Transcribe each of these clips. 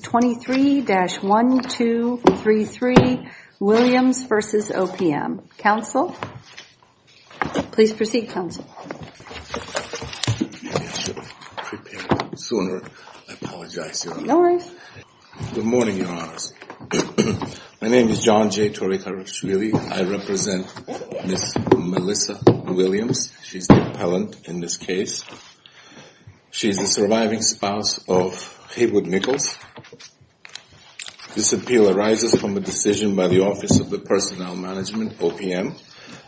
23-1233 Williams v. OPM. Council? Please proceed, Council. Maybe I should have prepared sooner. I apologize, Your Honor. No worries. Good morning, Your Honors. My name is John J. Torekarashvili. I represent Ms. Melissa Williams. She's the appellant in this case. She's the surviving spouse of Haywood Nichols. This appeal arises from a decision by the Office of Personnel Management, OPM,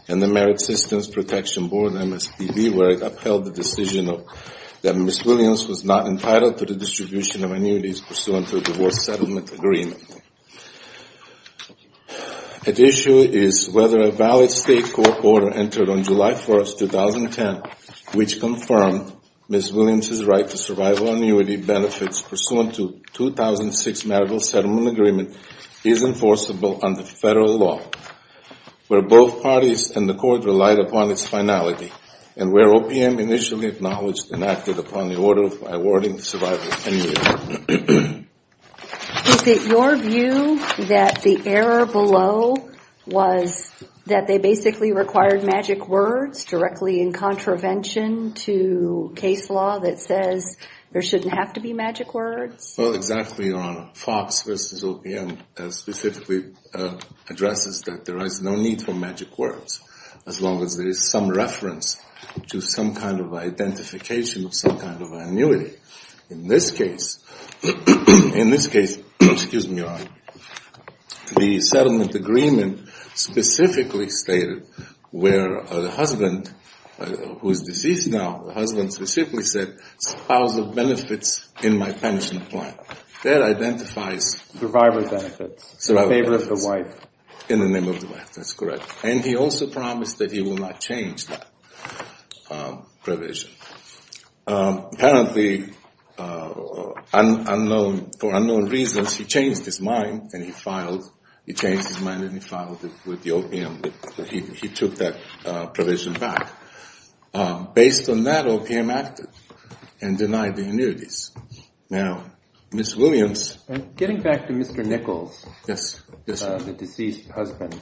and the Merit Systems Protection Board, MSPB, where it upheld the decision that Ms. Williams was not entitled to the distribution of annuities pursuant to a divorce settlement agreement. At issue is whether a valid state court order entered on July 1, 2010, which confirmed Ms. Williams' right to survival annuity benefits pursuant to 2006 marital settlement agreement is enforceable under federal law, where both parties and the court relied upon its finality, and where OPM initially acknowledged and acted upon the order awarding survival annuity. Is it your view that the error below was that they basically required magic words directly in contravention to case law that says there shouldn't have to be magic words? Well, exactly, Your Honor. FOX versus OPM specifically addresses that there is no need for magic words, as long as there is some reference to some kind of identification of some kind of annuity. In this case, the settlement agreement specifically stated where the husband, who is deceased now, the husband specifically said, spouse of benefits in my pension plan. That identifies survival benefits in the name of the wife. That's correct. And he also promised that he will not change that provision. Apparently, for unknown reasons, he changed his mind and he filed. He took that provision back. Based on that, OPM acted and denied the annuities. Now, Ms. Williams. Getting back to Mr. Nichols, the deceased husband,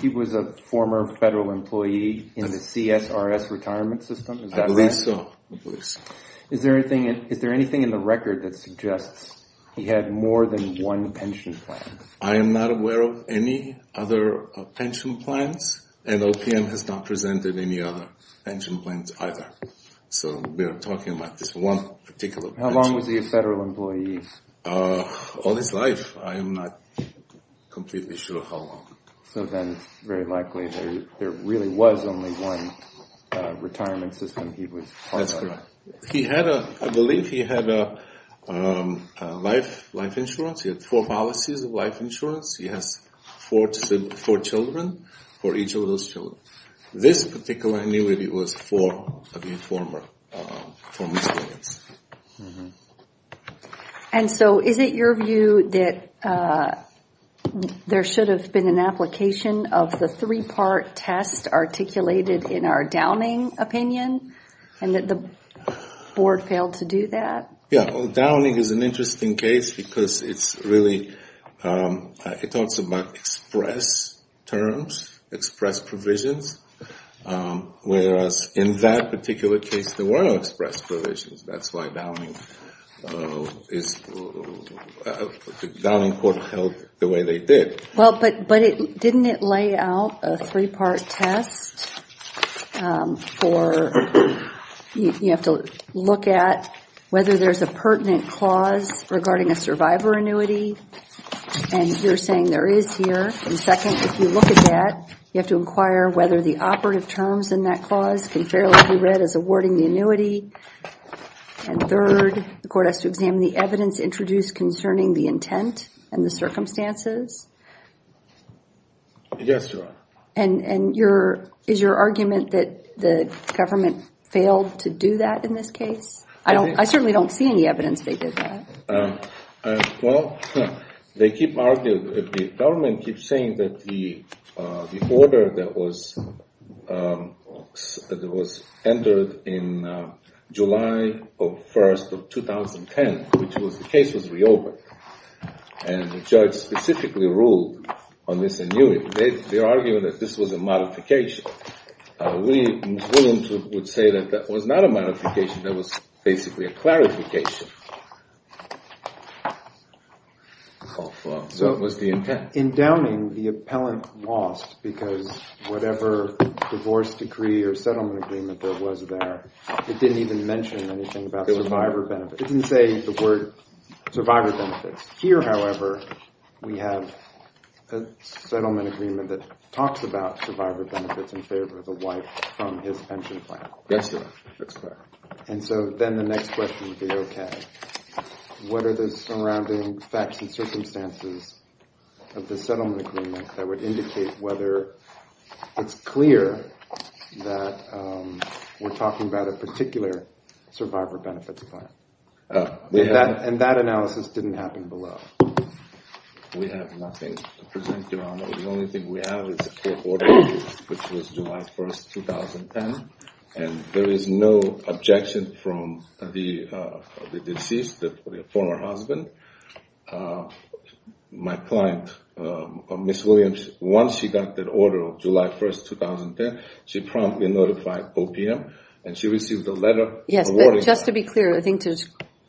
he was a former federal employee in the CSRS retirement system. Is that right? I believe so. Is there anything in the record that suggests he had more than one pension plan? I am not aware of any other pension plans, and OPM has not presented any other pension plans either. So we are talking about this one particular pension plan. How long was he a federal employee? All his life. I am not completely sure how long. So then it's very likely there really was only one retirement system he was part of. That's correct. I believe he had life insurance. He had four policies of life insurance. He has four children for each of those children. This particular annuity was for Ms. Williams. And so is it your view that there should have been an application of the three-part test articulated in our Downing opinion and that the board failed to do that? Downing is an interesting case because it talks about express terms, express provisions, whereas in that particular case there were no express provisions. That's why Downing held it the way they did. Didn't it lay out a three-part test for you have to look at whether there is a pertinent clause regarding a survivor annuity? And you're saying there is here. And second, if you look at that, you have to inquire whether the operative terms in that clause can fairly be read as awarding the annuity. And third, the court has to examine the evidence introduced concerning the intent and the circumstances. Yes, Your Honor. And is your argument that the government failed to do that in this case? I certainly don't see any evidence they did that. Well, they keep arguing, the government keeps saying that the order that was entered in July 1st of 2010, which was the case was reopened, and the judge specifically ruled on this annuity. They are arguing that this was a modification. We would say that that was not a modification. That was basically a clarification of what was the intent. In Downing, the appellant lost because whatever divorce decree or settlement agreement there was there, it didn't even mention anything about survivor benefits. It didn't say the word survivor benefits. Here, however, we have a settlement agreement that talks about survivor benefits in favor of the wife from his pension plan. Yes, Your Honor. And so then the next question would be, okay, what are the surrounding facts and circumstances of the settlement agreement that would indicate whether it's clear that we're talking about a particular survivor benefits plan? And that analysis didn't happen below. We have nothing to present, Your Honor. The only thing we have is the order, which was July 1st, 2010, and there is no objection from the deceased, the former husband. My client, Ms. Williams, once she got that order of July 1st, 2010, she promptly notified OPM, and she received a letter. Yes, but just to be clear, I think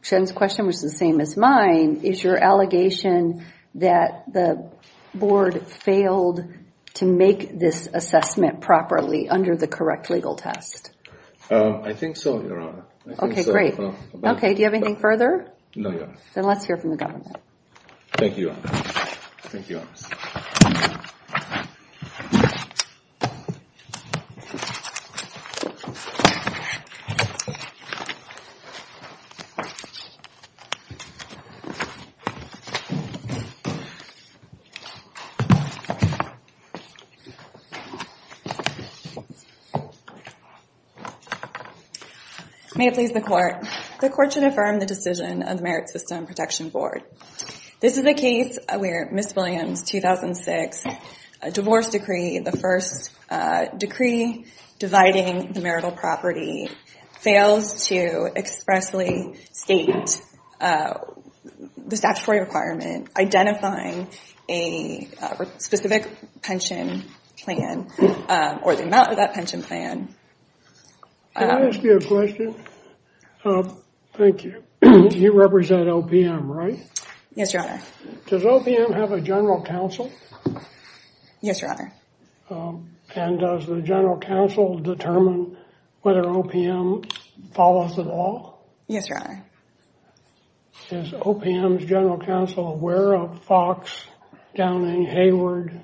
Jen's question was the same as mine. Is your allegation that the board failed to make this assessment properly under the correct legal test? I think so, Your Honor. Okay, great. Okay, do you have anything further? No, Your Honor. Then let's hear from the government. Thank you, Your Honor. Thank you, Your Honor. Thank you, Your Honor. May it please the Court. The Court should affirm the decision of the Merit System Protection Board. This is a case where Ms. Williams' 2006 divorce decree, the first decree dividing the marital property, fails to expressly state the statutory requirement identifying a specific pension plan or the amount of that pension plan. Can I ask you a question? Thank you. You represent OPM, right? Yes, Your Honor. Does OPM have a general counsel? Yes, Your Honor. And does the general counsel determine whether OPM follows at all? Yes, Your Honor. Is OPM's general counsel aware of Fox, Downing, Hayward,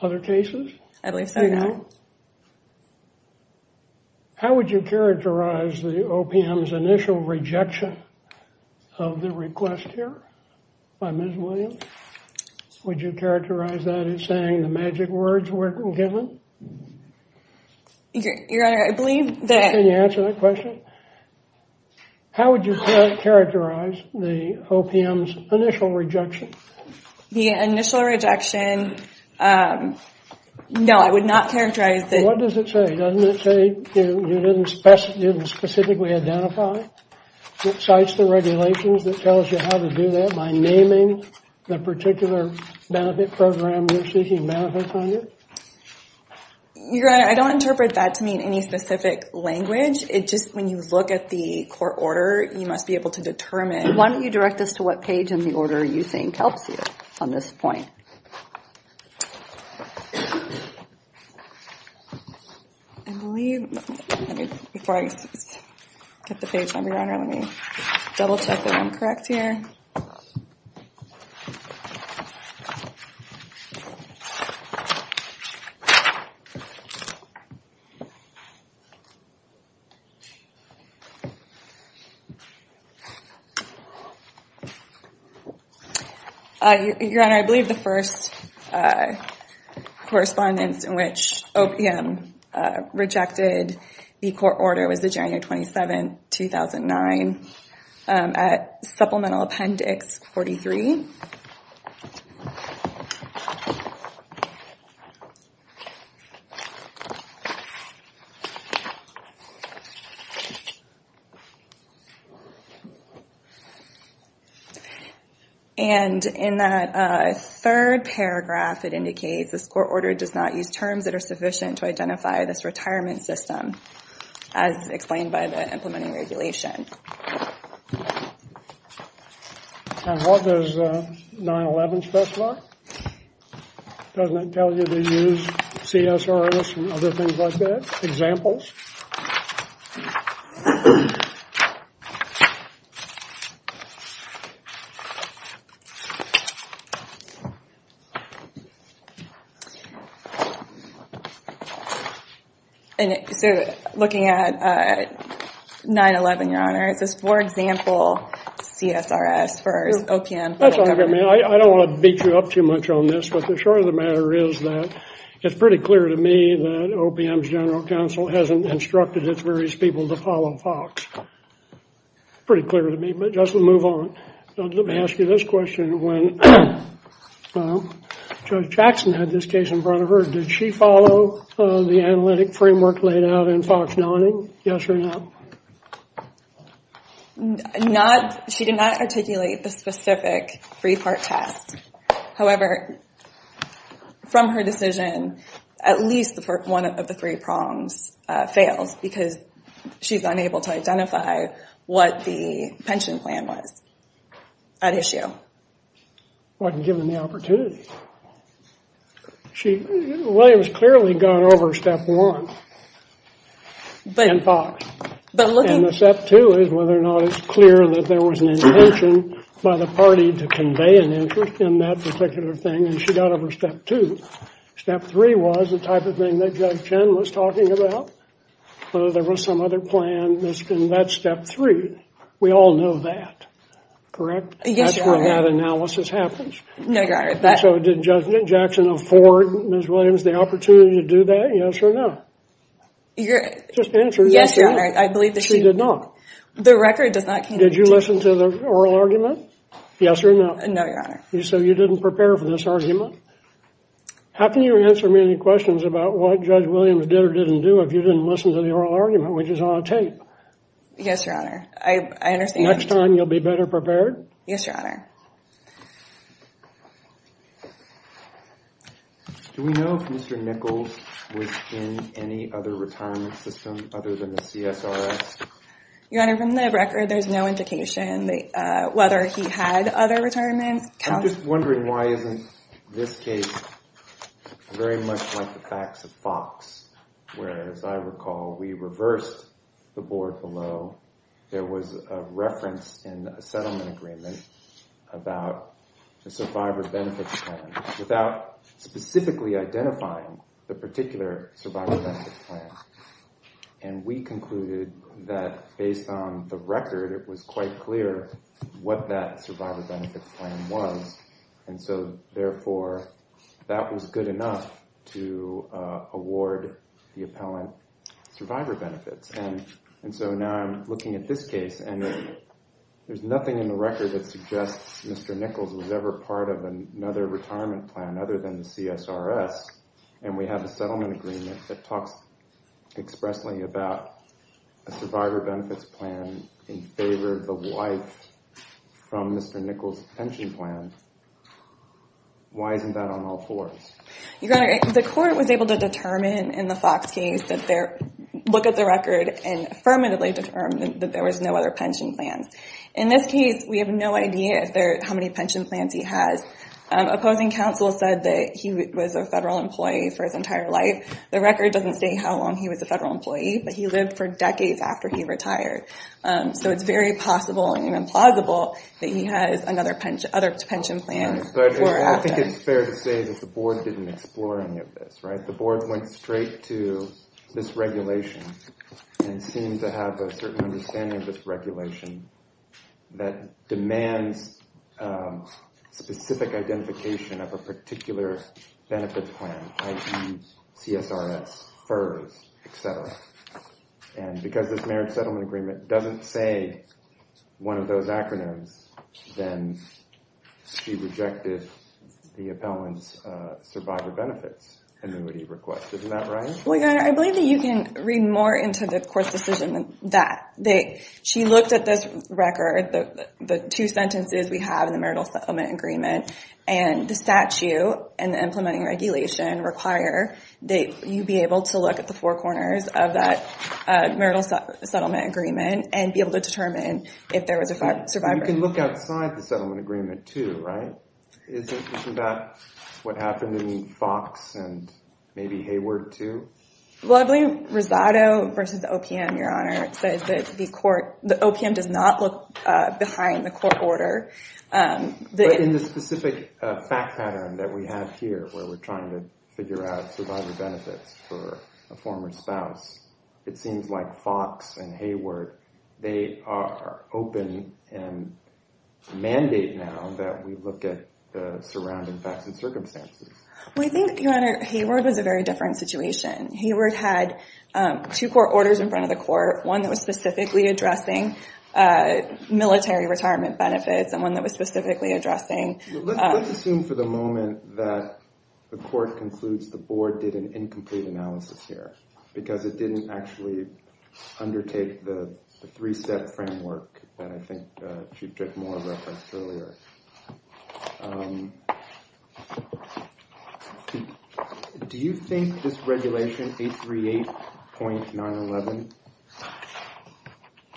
other cases? I believe so, Your Honor. Okay. How would you characterize the OPM's initial rejection of the request here by Ms. Williams? Would you characterize that as saying the magic words were given? Your Honor, I believe that— Can you answer that question? How would you characterize the OPM's initial rejection? The initial rejection—no, I would not characterize that— What does it say? Doesn't it say you didn't specifically identify? It cites the regulations that tells you how to do that by naming the particular benefit program you're seeking benefits under? Your Honor, I don't interpret that to mean any specific language. It's just when you look at the court order, you must be able to determine— direct us to what page in the order you think helps you on this point. I believe—before I get the page number, Your Honor, let me double-check that I'm correct here. Your Honor, I believe the first correspondence in which OPM rejected the court order was January 27, 2009, at supplemental appendix 43. And in that third paragraph, it indicates this court order does not use terms that are sufficient to identify this retirement system, as explained by the implementing regulation. And what does 9-11 specify? Doesn't it tell you to use CSRS and other things like that? So, looking at 9-11, Your Honor, is this, for example, CSRS for OPM? I don't want to beat you up too much on this, but the short of the matter is that it's pretty clear to me that OPM's general counsel hasn't instructed its various people to follow FOX. Pretty clear to me, but just to move on, let me ask you this question. When Judge Jackson had this case in front of her, did she follow the analytic framework laid out in FOX-9? Yes or no? She did not articulate the specific three-part test. However, from her decision, at least one of the three prongs fails, because she's unable to identify what the pension plan was at issue. Wasn't given the opportunity. Williams clearly got over step one in FOX. And step two is whether or not it's clear that there was an intention by the party to convey an interest in that particular thing, and she got over step two. Step three was the type of thing that Judge Chen was talking about, whether there was some other plan. And that's step three. We all know that. Correct? Yes, Your Honor. That's when that analysis happens. No, Your Honor. So did Judge Jackson afford Ms. Williams the opportunity to do that? Yes or no? Just answer. Yes, Your Honor. She did not. The record does not contain. Did you listen to the oral argument? Yes or no? No, Your Honor. So you didn't prepare for this argument? How can you answer me any questions about what Judge Williams did or didn't do if you didn't listen to the oral argument, which is on tape? Yes, Your Honor. I understand. Next time you'll be better prepared? Yes, Your Honor. Do we know if Mr. Nichols was in any other retirement system other than the CSRS? Your Honor, from the record, there's no indication whether he had other retirements. I'm just wondering why isn't this case very much like the facts of Fox, where, as I recall, we reversed the board below. There was a reference in a settlement agreement about the Survivor Benefits Plan without specifically identifying the particular Survivor Benefits Plan. And we concluded that, based on the record, it was quite clear what that Survivor Benefits Plan was. And so, therefore, that was good enough to award the appellant Survivor Benefits. And so now I'm looking at this case, and there's nothing in the record that suggests Mr. Nichols was ever part of another retirement plan other than the CSRS, and we have a settlement agreement that talks expressly about a Survivor Benefits Plan in favor of the wife from Mr. Nichols' pension plan. Why isn't that on all fours? Your Honor, the court was able to determine in the Fox case that their look at the record and affirmatively determined that there was no other pension plans. In this case, we have no idea how many pension plans he has. Opposing counsel said that he was a federal employee for his entire life. The record doesn't state how long he was a federal employee, but he lived for decades after he retired. So it's very possible and even plausible that he has other pension plans before or after. I think it's fair to say that the board didn't explore any of this. The board went straight to this regulation and seemed to have a certain understanding of this regulation that demands specific identification of a particular benefits plan, i.e. CSRS, FERS, etc. And because this marriage settlement agreement doesn't say one of those acronyms, then she rejected the appellant's Survivor Benefits annuity request. Isn't that right? I believe that you can read more into the court's decision than that. She looked at this record, the two sentences we have in the marital settlement agreement, and the statute and the implementing regulation require that you be able to look at the four corners of that marital settlement agreement and be able to determine if there was a survivor benefit. You can look outside the settlement agreement too, right? Isn't that what happened in Fox and maybe Hayward too? Well, I believe Rosado v. OPM, Your Honor, says that the OPM does not look behind the court order. But in the specific fact pattern that we have here, where we're trying to figure out survivor benefits for a former spouse, it seems like Fox and Hayward, they are open and mandate now that we look at the surrounding facts and circumstances. Well, I think, Your Honor, Hayward was a very different situation. Hayward had two court orders in front of the court, one that was specifically addressing military retirement benefits and one that was specifically addressing... Let's assume for the moment that the court concludes the board did an incomplete analysis here because it didn't actually undertake the three-step framework that I think Chief Drickmore referenced earlier. Do you think this regulation, 838.911,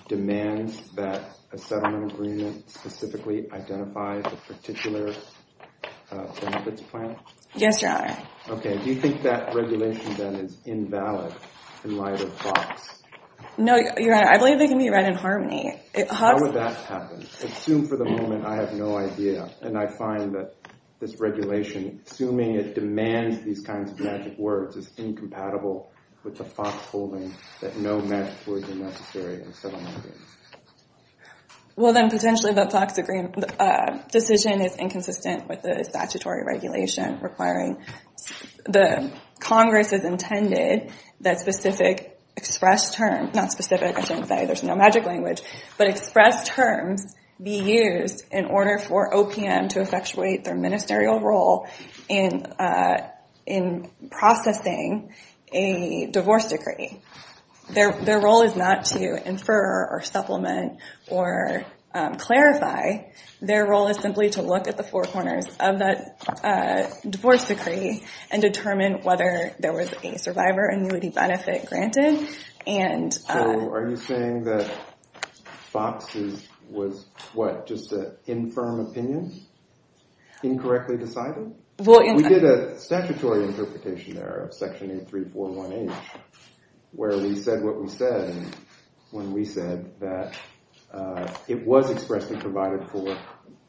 demands that a settlement agreement specifically identify the particular benefits plan? Yes, Your Honor. Okay, do you think that regulation then is invalid in light of Fox? No, Your Honor, I believe they can be read in harmony. How would that happen? Assume for the moment I have no idea and I find that this regulation, assuming it demands these kinds of magic words, is incompatible with the Fox holding that no magic words are necessary in settlement agreements. Well, then potentially the Fox decision is inconsistent with the statutory regulation requiring the Congress's intended that specific expressed terms, not specific, I shouldn't say there's no magic language, but expressed terms be used in order for OPM to effectuate their ministerial role in processing a divorce decree. Their role is not to infer or supplement or clarify. Their role is simply to look at the four corners of that divorce decree and determine whether there was a survivor annuity benefit granted. So are you saying that Fox was, what, just an infirm opinion, incorrectly decided? We did a statutory interpretation there of Section 83418 where we said what we said when we said that it was expressly provided for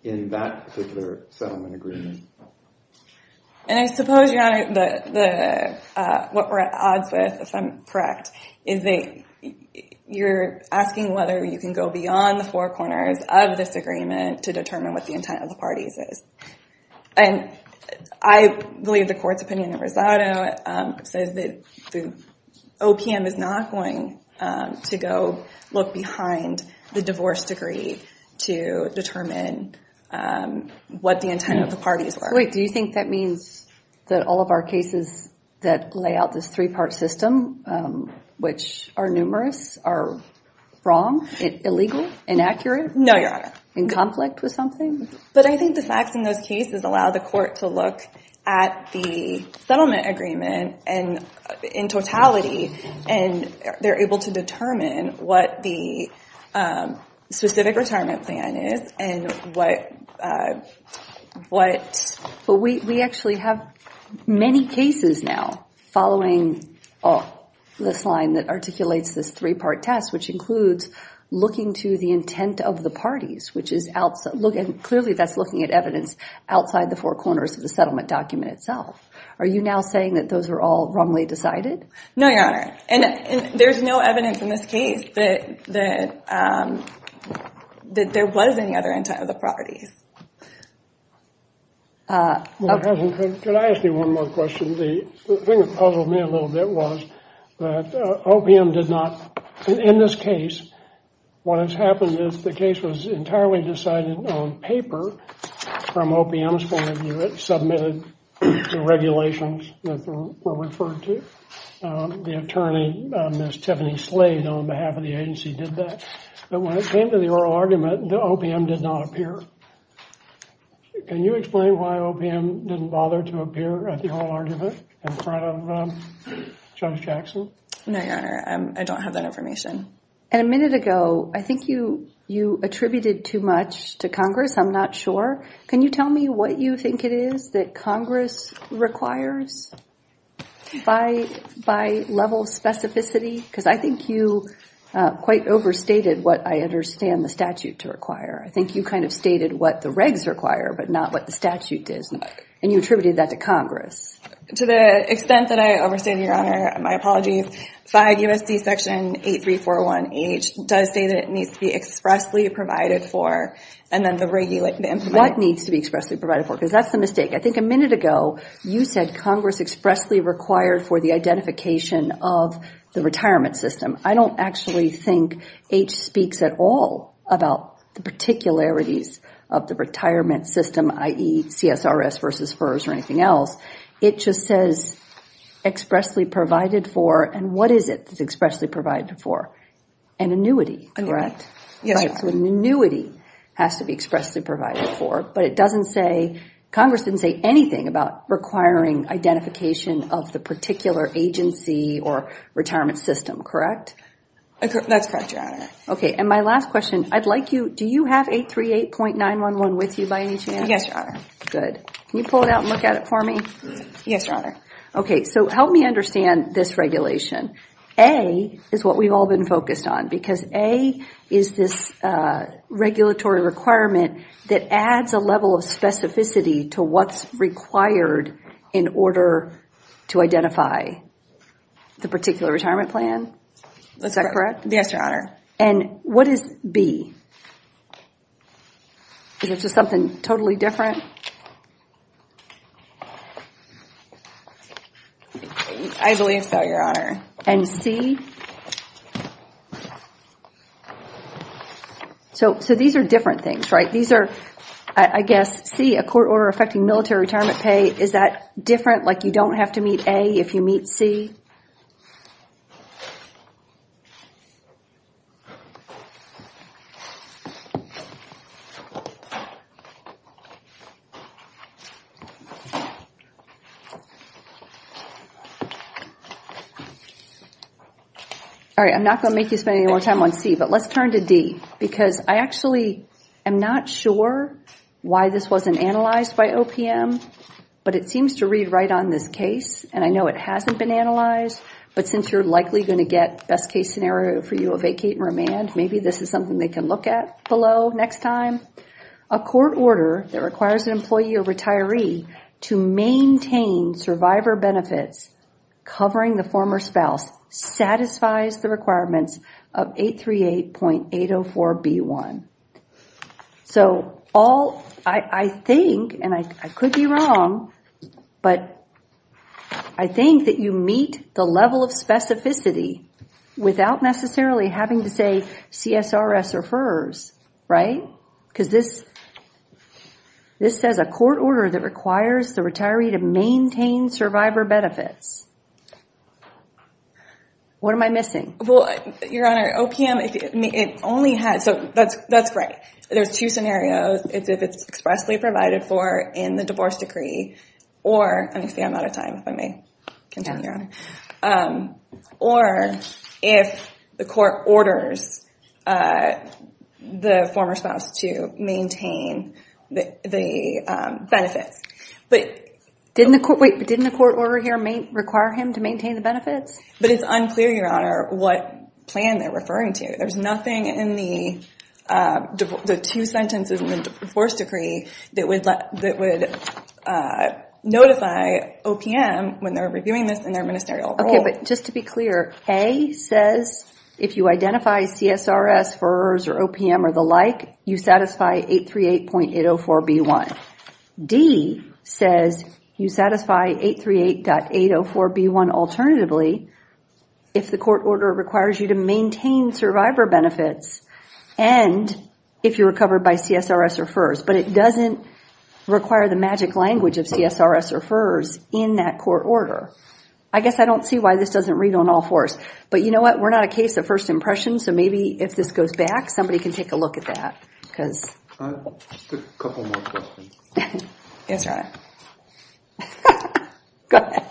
in that particular settlement agreement. And I suppose, Your Honor, what we're at odds with, if I'm correct, is that you're asking whether you can go beyond the four corners of this agreement to determine what the intent of the parties is. And I believe the court's opinion in Rosado says that the OPM is not going to go look behind the divorce decree to determine what the intent of the parties were. Wait, do you think that means that all of our cases that lay out this three-part system, which are numerous, are wrong, illegal, inaccurate? No, Your Honor. In conflict with something? But I think the facts in those cases allow the court to look at the settlement agreement in totality, and they're able to determine what the specific retirement plan is and what... But we actually have many cases now following this line that articulates this three-part test, which includes looking to the intent of the parties, which is clearly that's looking at evidence outside the four corners of the settlement document itself. Are you now saying that those are all wrongly decided? No, Your Honor. And there's no evidence in this case that there was any other intent of the parties. Could I ask you one more question? The thing that puzzled me a little bit was that OPM did not, in this case, what has happened is the case was entirely decided on paper from OPM's point of view. It submitted the regulations that were referred to. The attorney, Ms. Tiffany Slade, on behalf of the agency did that. But when it came to the oral argument, OPM did not appear. Can you explain why OPM didn't bother to appear at the oral argument in front of Judge Jackson? No, Your Honor, I don't have that information. A minute ago, I think you attributed too much to Congress. I'm not sure. Can you tell me what you think it is that Congress requires by level of specificity? Because I think you quite overstated what I understand the statute to require. I think you kind of stated what the regs require, but not what the statute does. And you attributed that to Congress. To the extent that I overstated, Your Honor, my apologies, 5 U.S.C. Section 8341H does say that it needs to be expressly provided for and then the implement. What needs to be expressly provided for? Because that's the mistake. I think a minute ago, you said Congress expressly required for the identification of the retirement system. I don't actually think H speaks at all about the particularities of the retirement system, i.e. CSRS versus FERS or anything else. It just says expressly provided for. And what is it that's expressly provided for? An annuity, correct? An annuity has to be expressly provided for. But it doesn't say, Congress didn't say anything about requiring identification of the particular agency or retirement system, correct? That's correct, Your Honor. Okay, and my last question, I'd like you, do you have 838.911 with you by any chance? Yes, Your Honor. Good. Can you pull it out and look at it for me? Yes, Your Honor. Okay, so help me understand this regulation. A is what we've all been focused on, because A is this regulatory requirement that adds a level of specificity to what's required in order to identify the particular retirement plan. Is that correct? Yes, Your Honor. And what is B? Is it just something totally different? I believe so, Your Honor. And C? So these are different things, right? These are, I guess, C, a court order affecting military retirement pay, is that different? Like you don't have to meet A if you meet C? All right, I'm not going to make you spend any more time on C, but let's turn to D, because I actually am not sure why this wasn't analyzed by OPM, but it seems to read right on this case, and I know it hasn't been analyzed, but since you're likely going to get best-case scenario for you of vacate and remand, maybe this is something they can look at below next time. A court order that requires an employee or retiree to maintain survivor benefits covering the former spouse satisfies the requirements of 838.804B1. So I think, and I could be wrong, but I think that you meet the level of specificity without necessarily having to say CSRS or FERS, right? Because this says a court order that requires the retiree to maintain survivor benefits. What am I missing? Well, Your Honor, OPM, it only has, so that's right. There's two scenarios. It's if it's expressly provided for in the divorce decree, or, I'm out of time, if I may continue, Your Honor, or if the court orders the former spouse to maintain the benefits. Wait, but didn't the court order here require him to maintain the benefits? But it's unclear, Your Honor, what plan they're referring to. There's nothing in the two sentences in the divorce decree that would notify OPM when they're reviewing this in their ministerial role. Okay, but just to be clear, A says if you identify CSRS, FERS, or OPM, or the like, you satisfy 838.804B1. D says you satisfy 838.804B1 alternatively if the court order requires you to maintain survivor benefits and if you're covered by CSRS or FERS. But it doesn't require the magic language of CSRS or FERS in that court order. I guess I don't see why this doesn't read on all fours. But you know what? We're not a case of first impression, so maybe if this goes back, somebody can take a look at that. Just a couple more questions. Yes, Your Honor. Go ahead.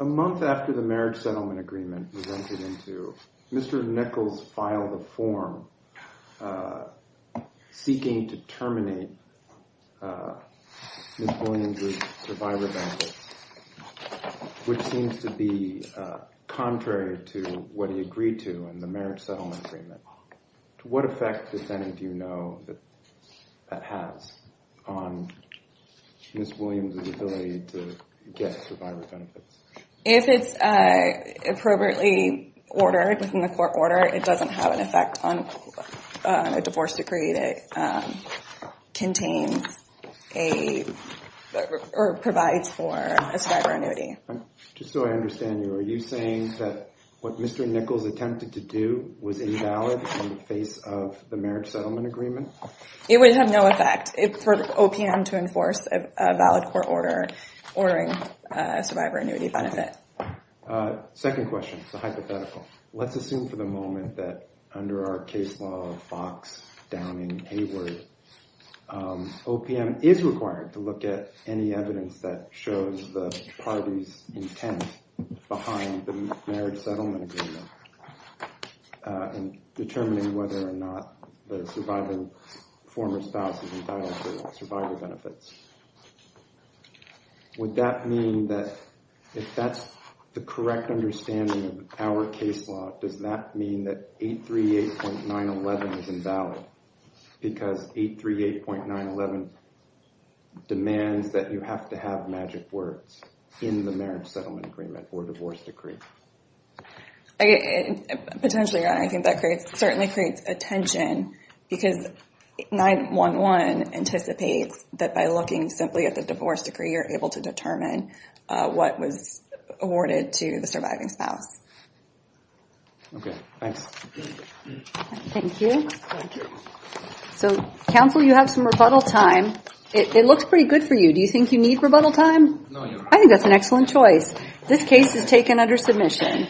A month after the marriage settlement agreement was entered into, Mr. Nichols filed a form seeking to terminate Ms. Williams' survivor benefits, which seems to be contrary to what he agreed to in the marriage settlement agreement. To what effect, defendant, do you know that that has on Ms. Williams' ability to get survivor benefits? If it's appropriately ordered within the court order, it doesn't have an effect on a divorce decree that contains or provides for a survivor annuity. Just so I understand you, are you saying that what Mr. Nichols attempted to do was invalid in the face of the marriage settlement agreement? It would have no effect for OPM to enforce a valid court order ordering a survivor annuity benefit. Second question, it's a hypothetical. Let's assume for the moment that under our case law, Fox, Downing, Hayward, OPM is required to look at any evidence that shows the parties' intent behind the marriage settlement agreement in determining whether or not the surviving former spouse is entitled to survivor benefits. Would that mean that if that's the correct understanding of our case law, does that mean that 838.911 is invalid? Because 838.911 demands that you have to have magic words in the marriage settlement agreement or divorce decree. Potentially, I think that certainly creates a tension because 9-1-1 anticipates that by looking simply at the divorce decree, you're able to determine what was awarded to the surviving spouse. Okay, thanks. Thank you. Counsel, you have some rebuttal time. It looks pretty good for you. Do you think you need rebuttal time? I think that's an excellent choice. This case is taken under submission.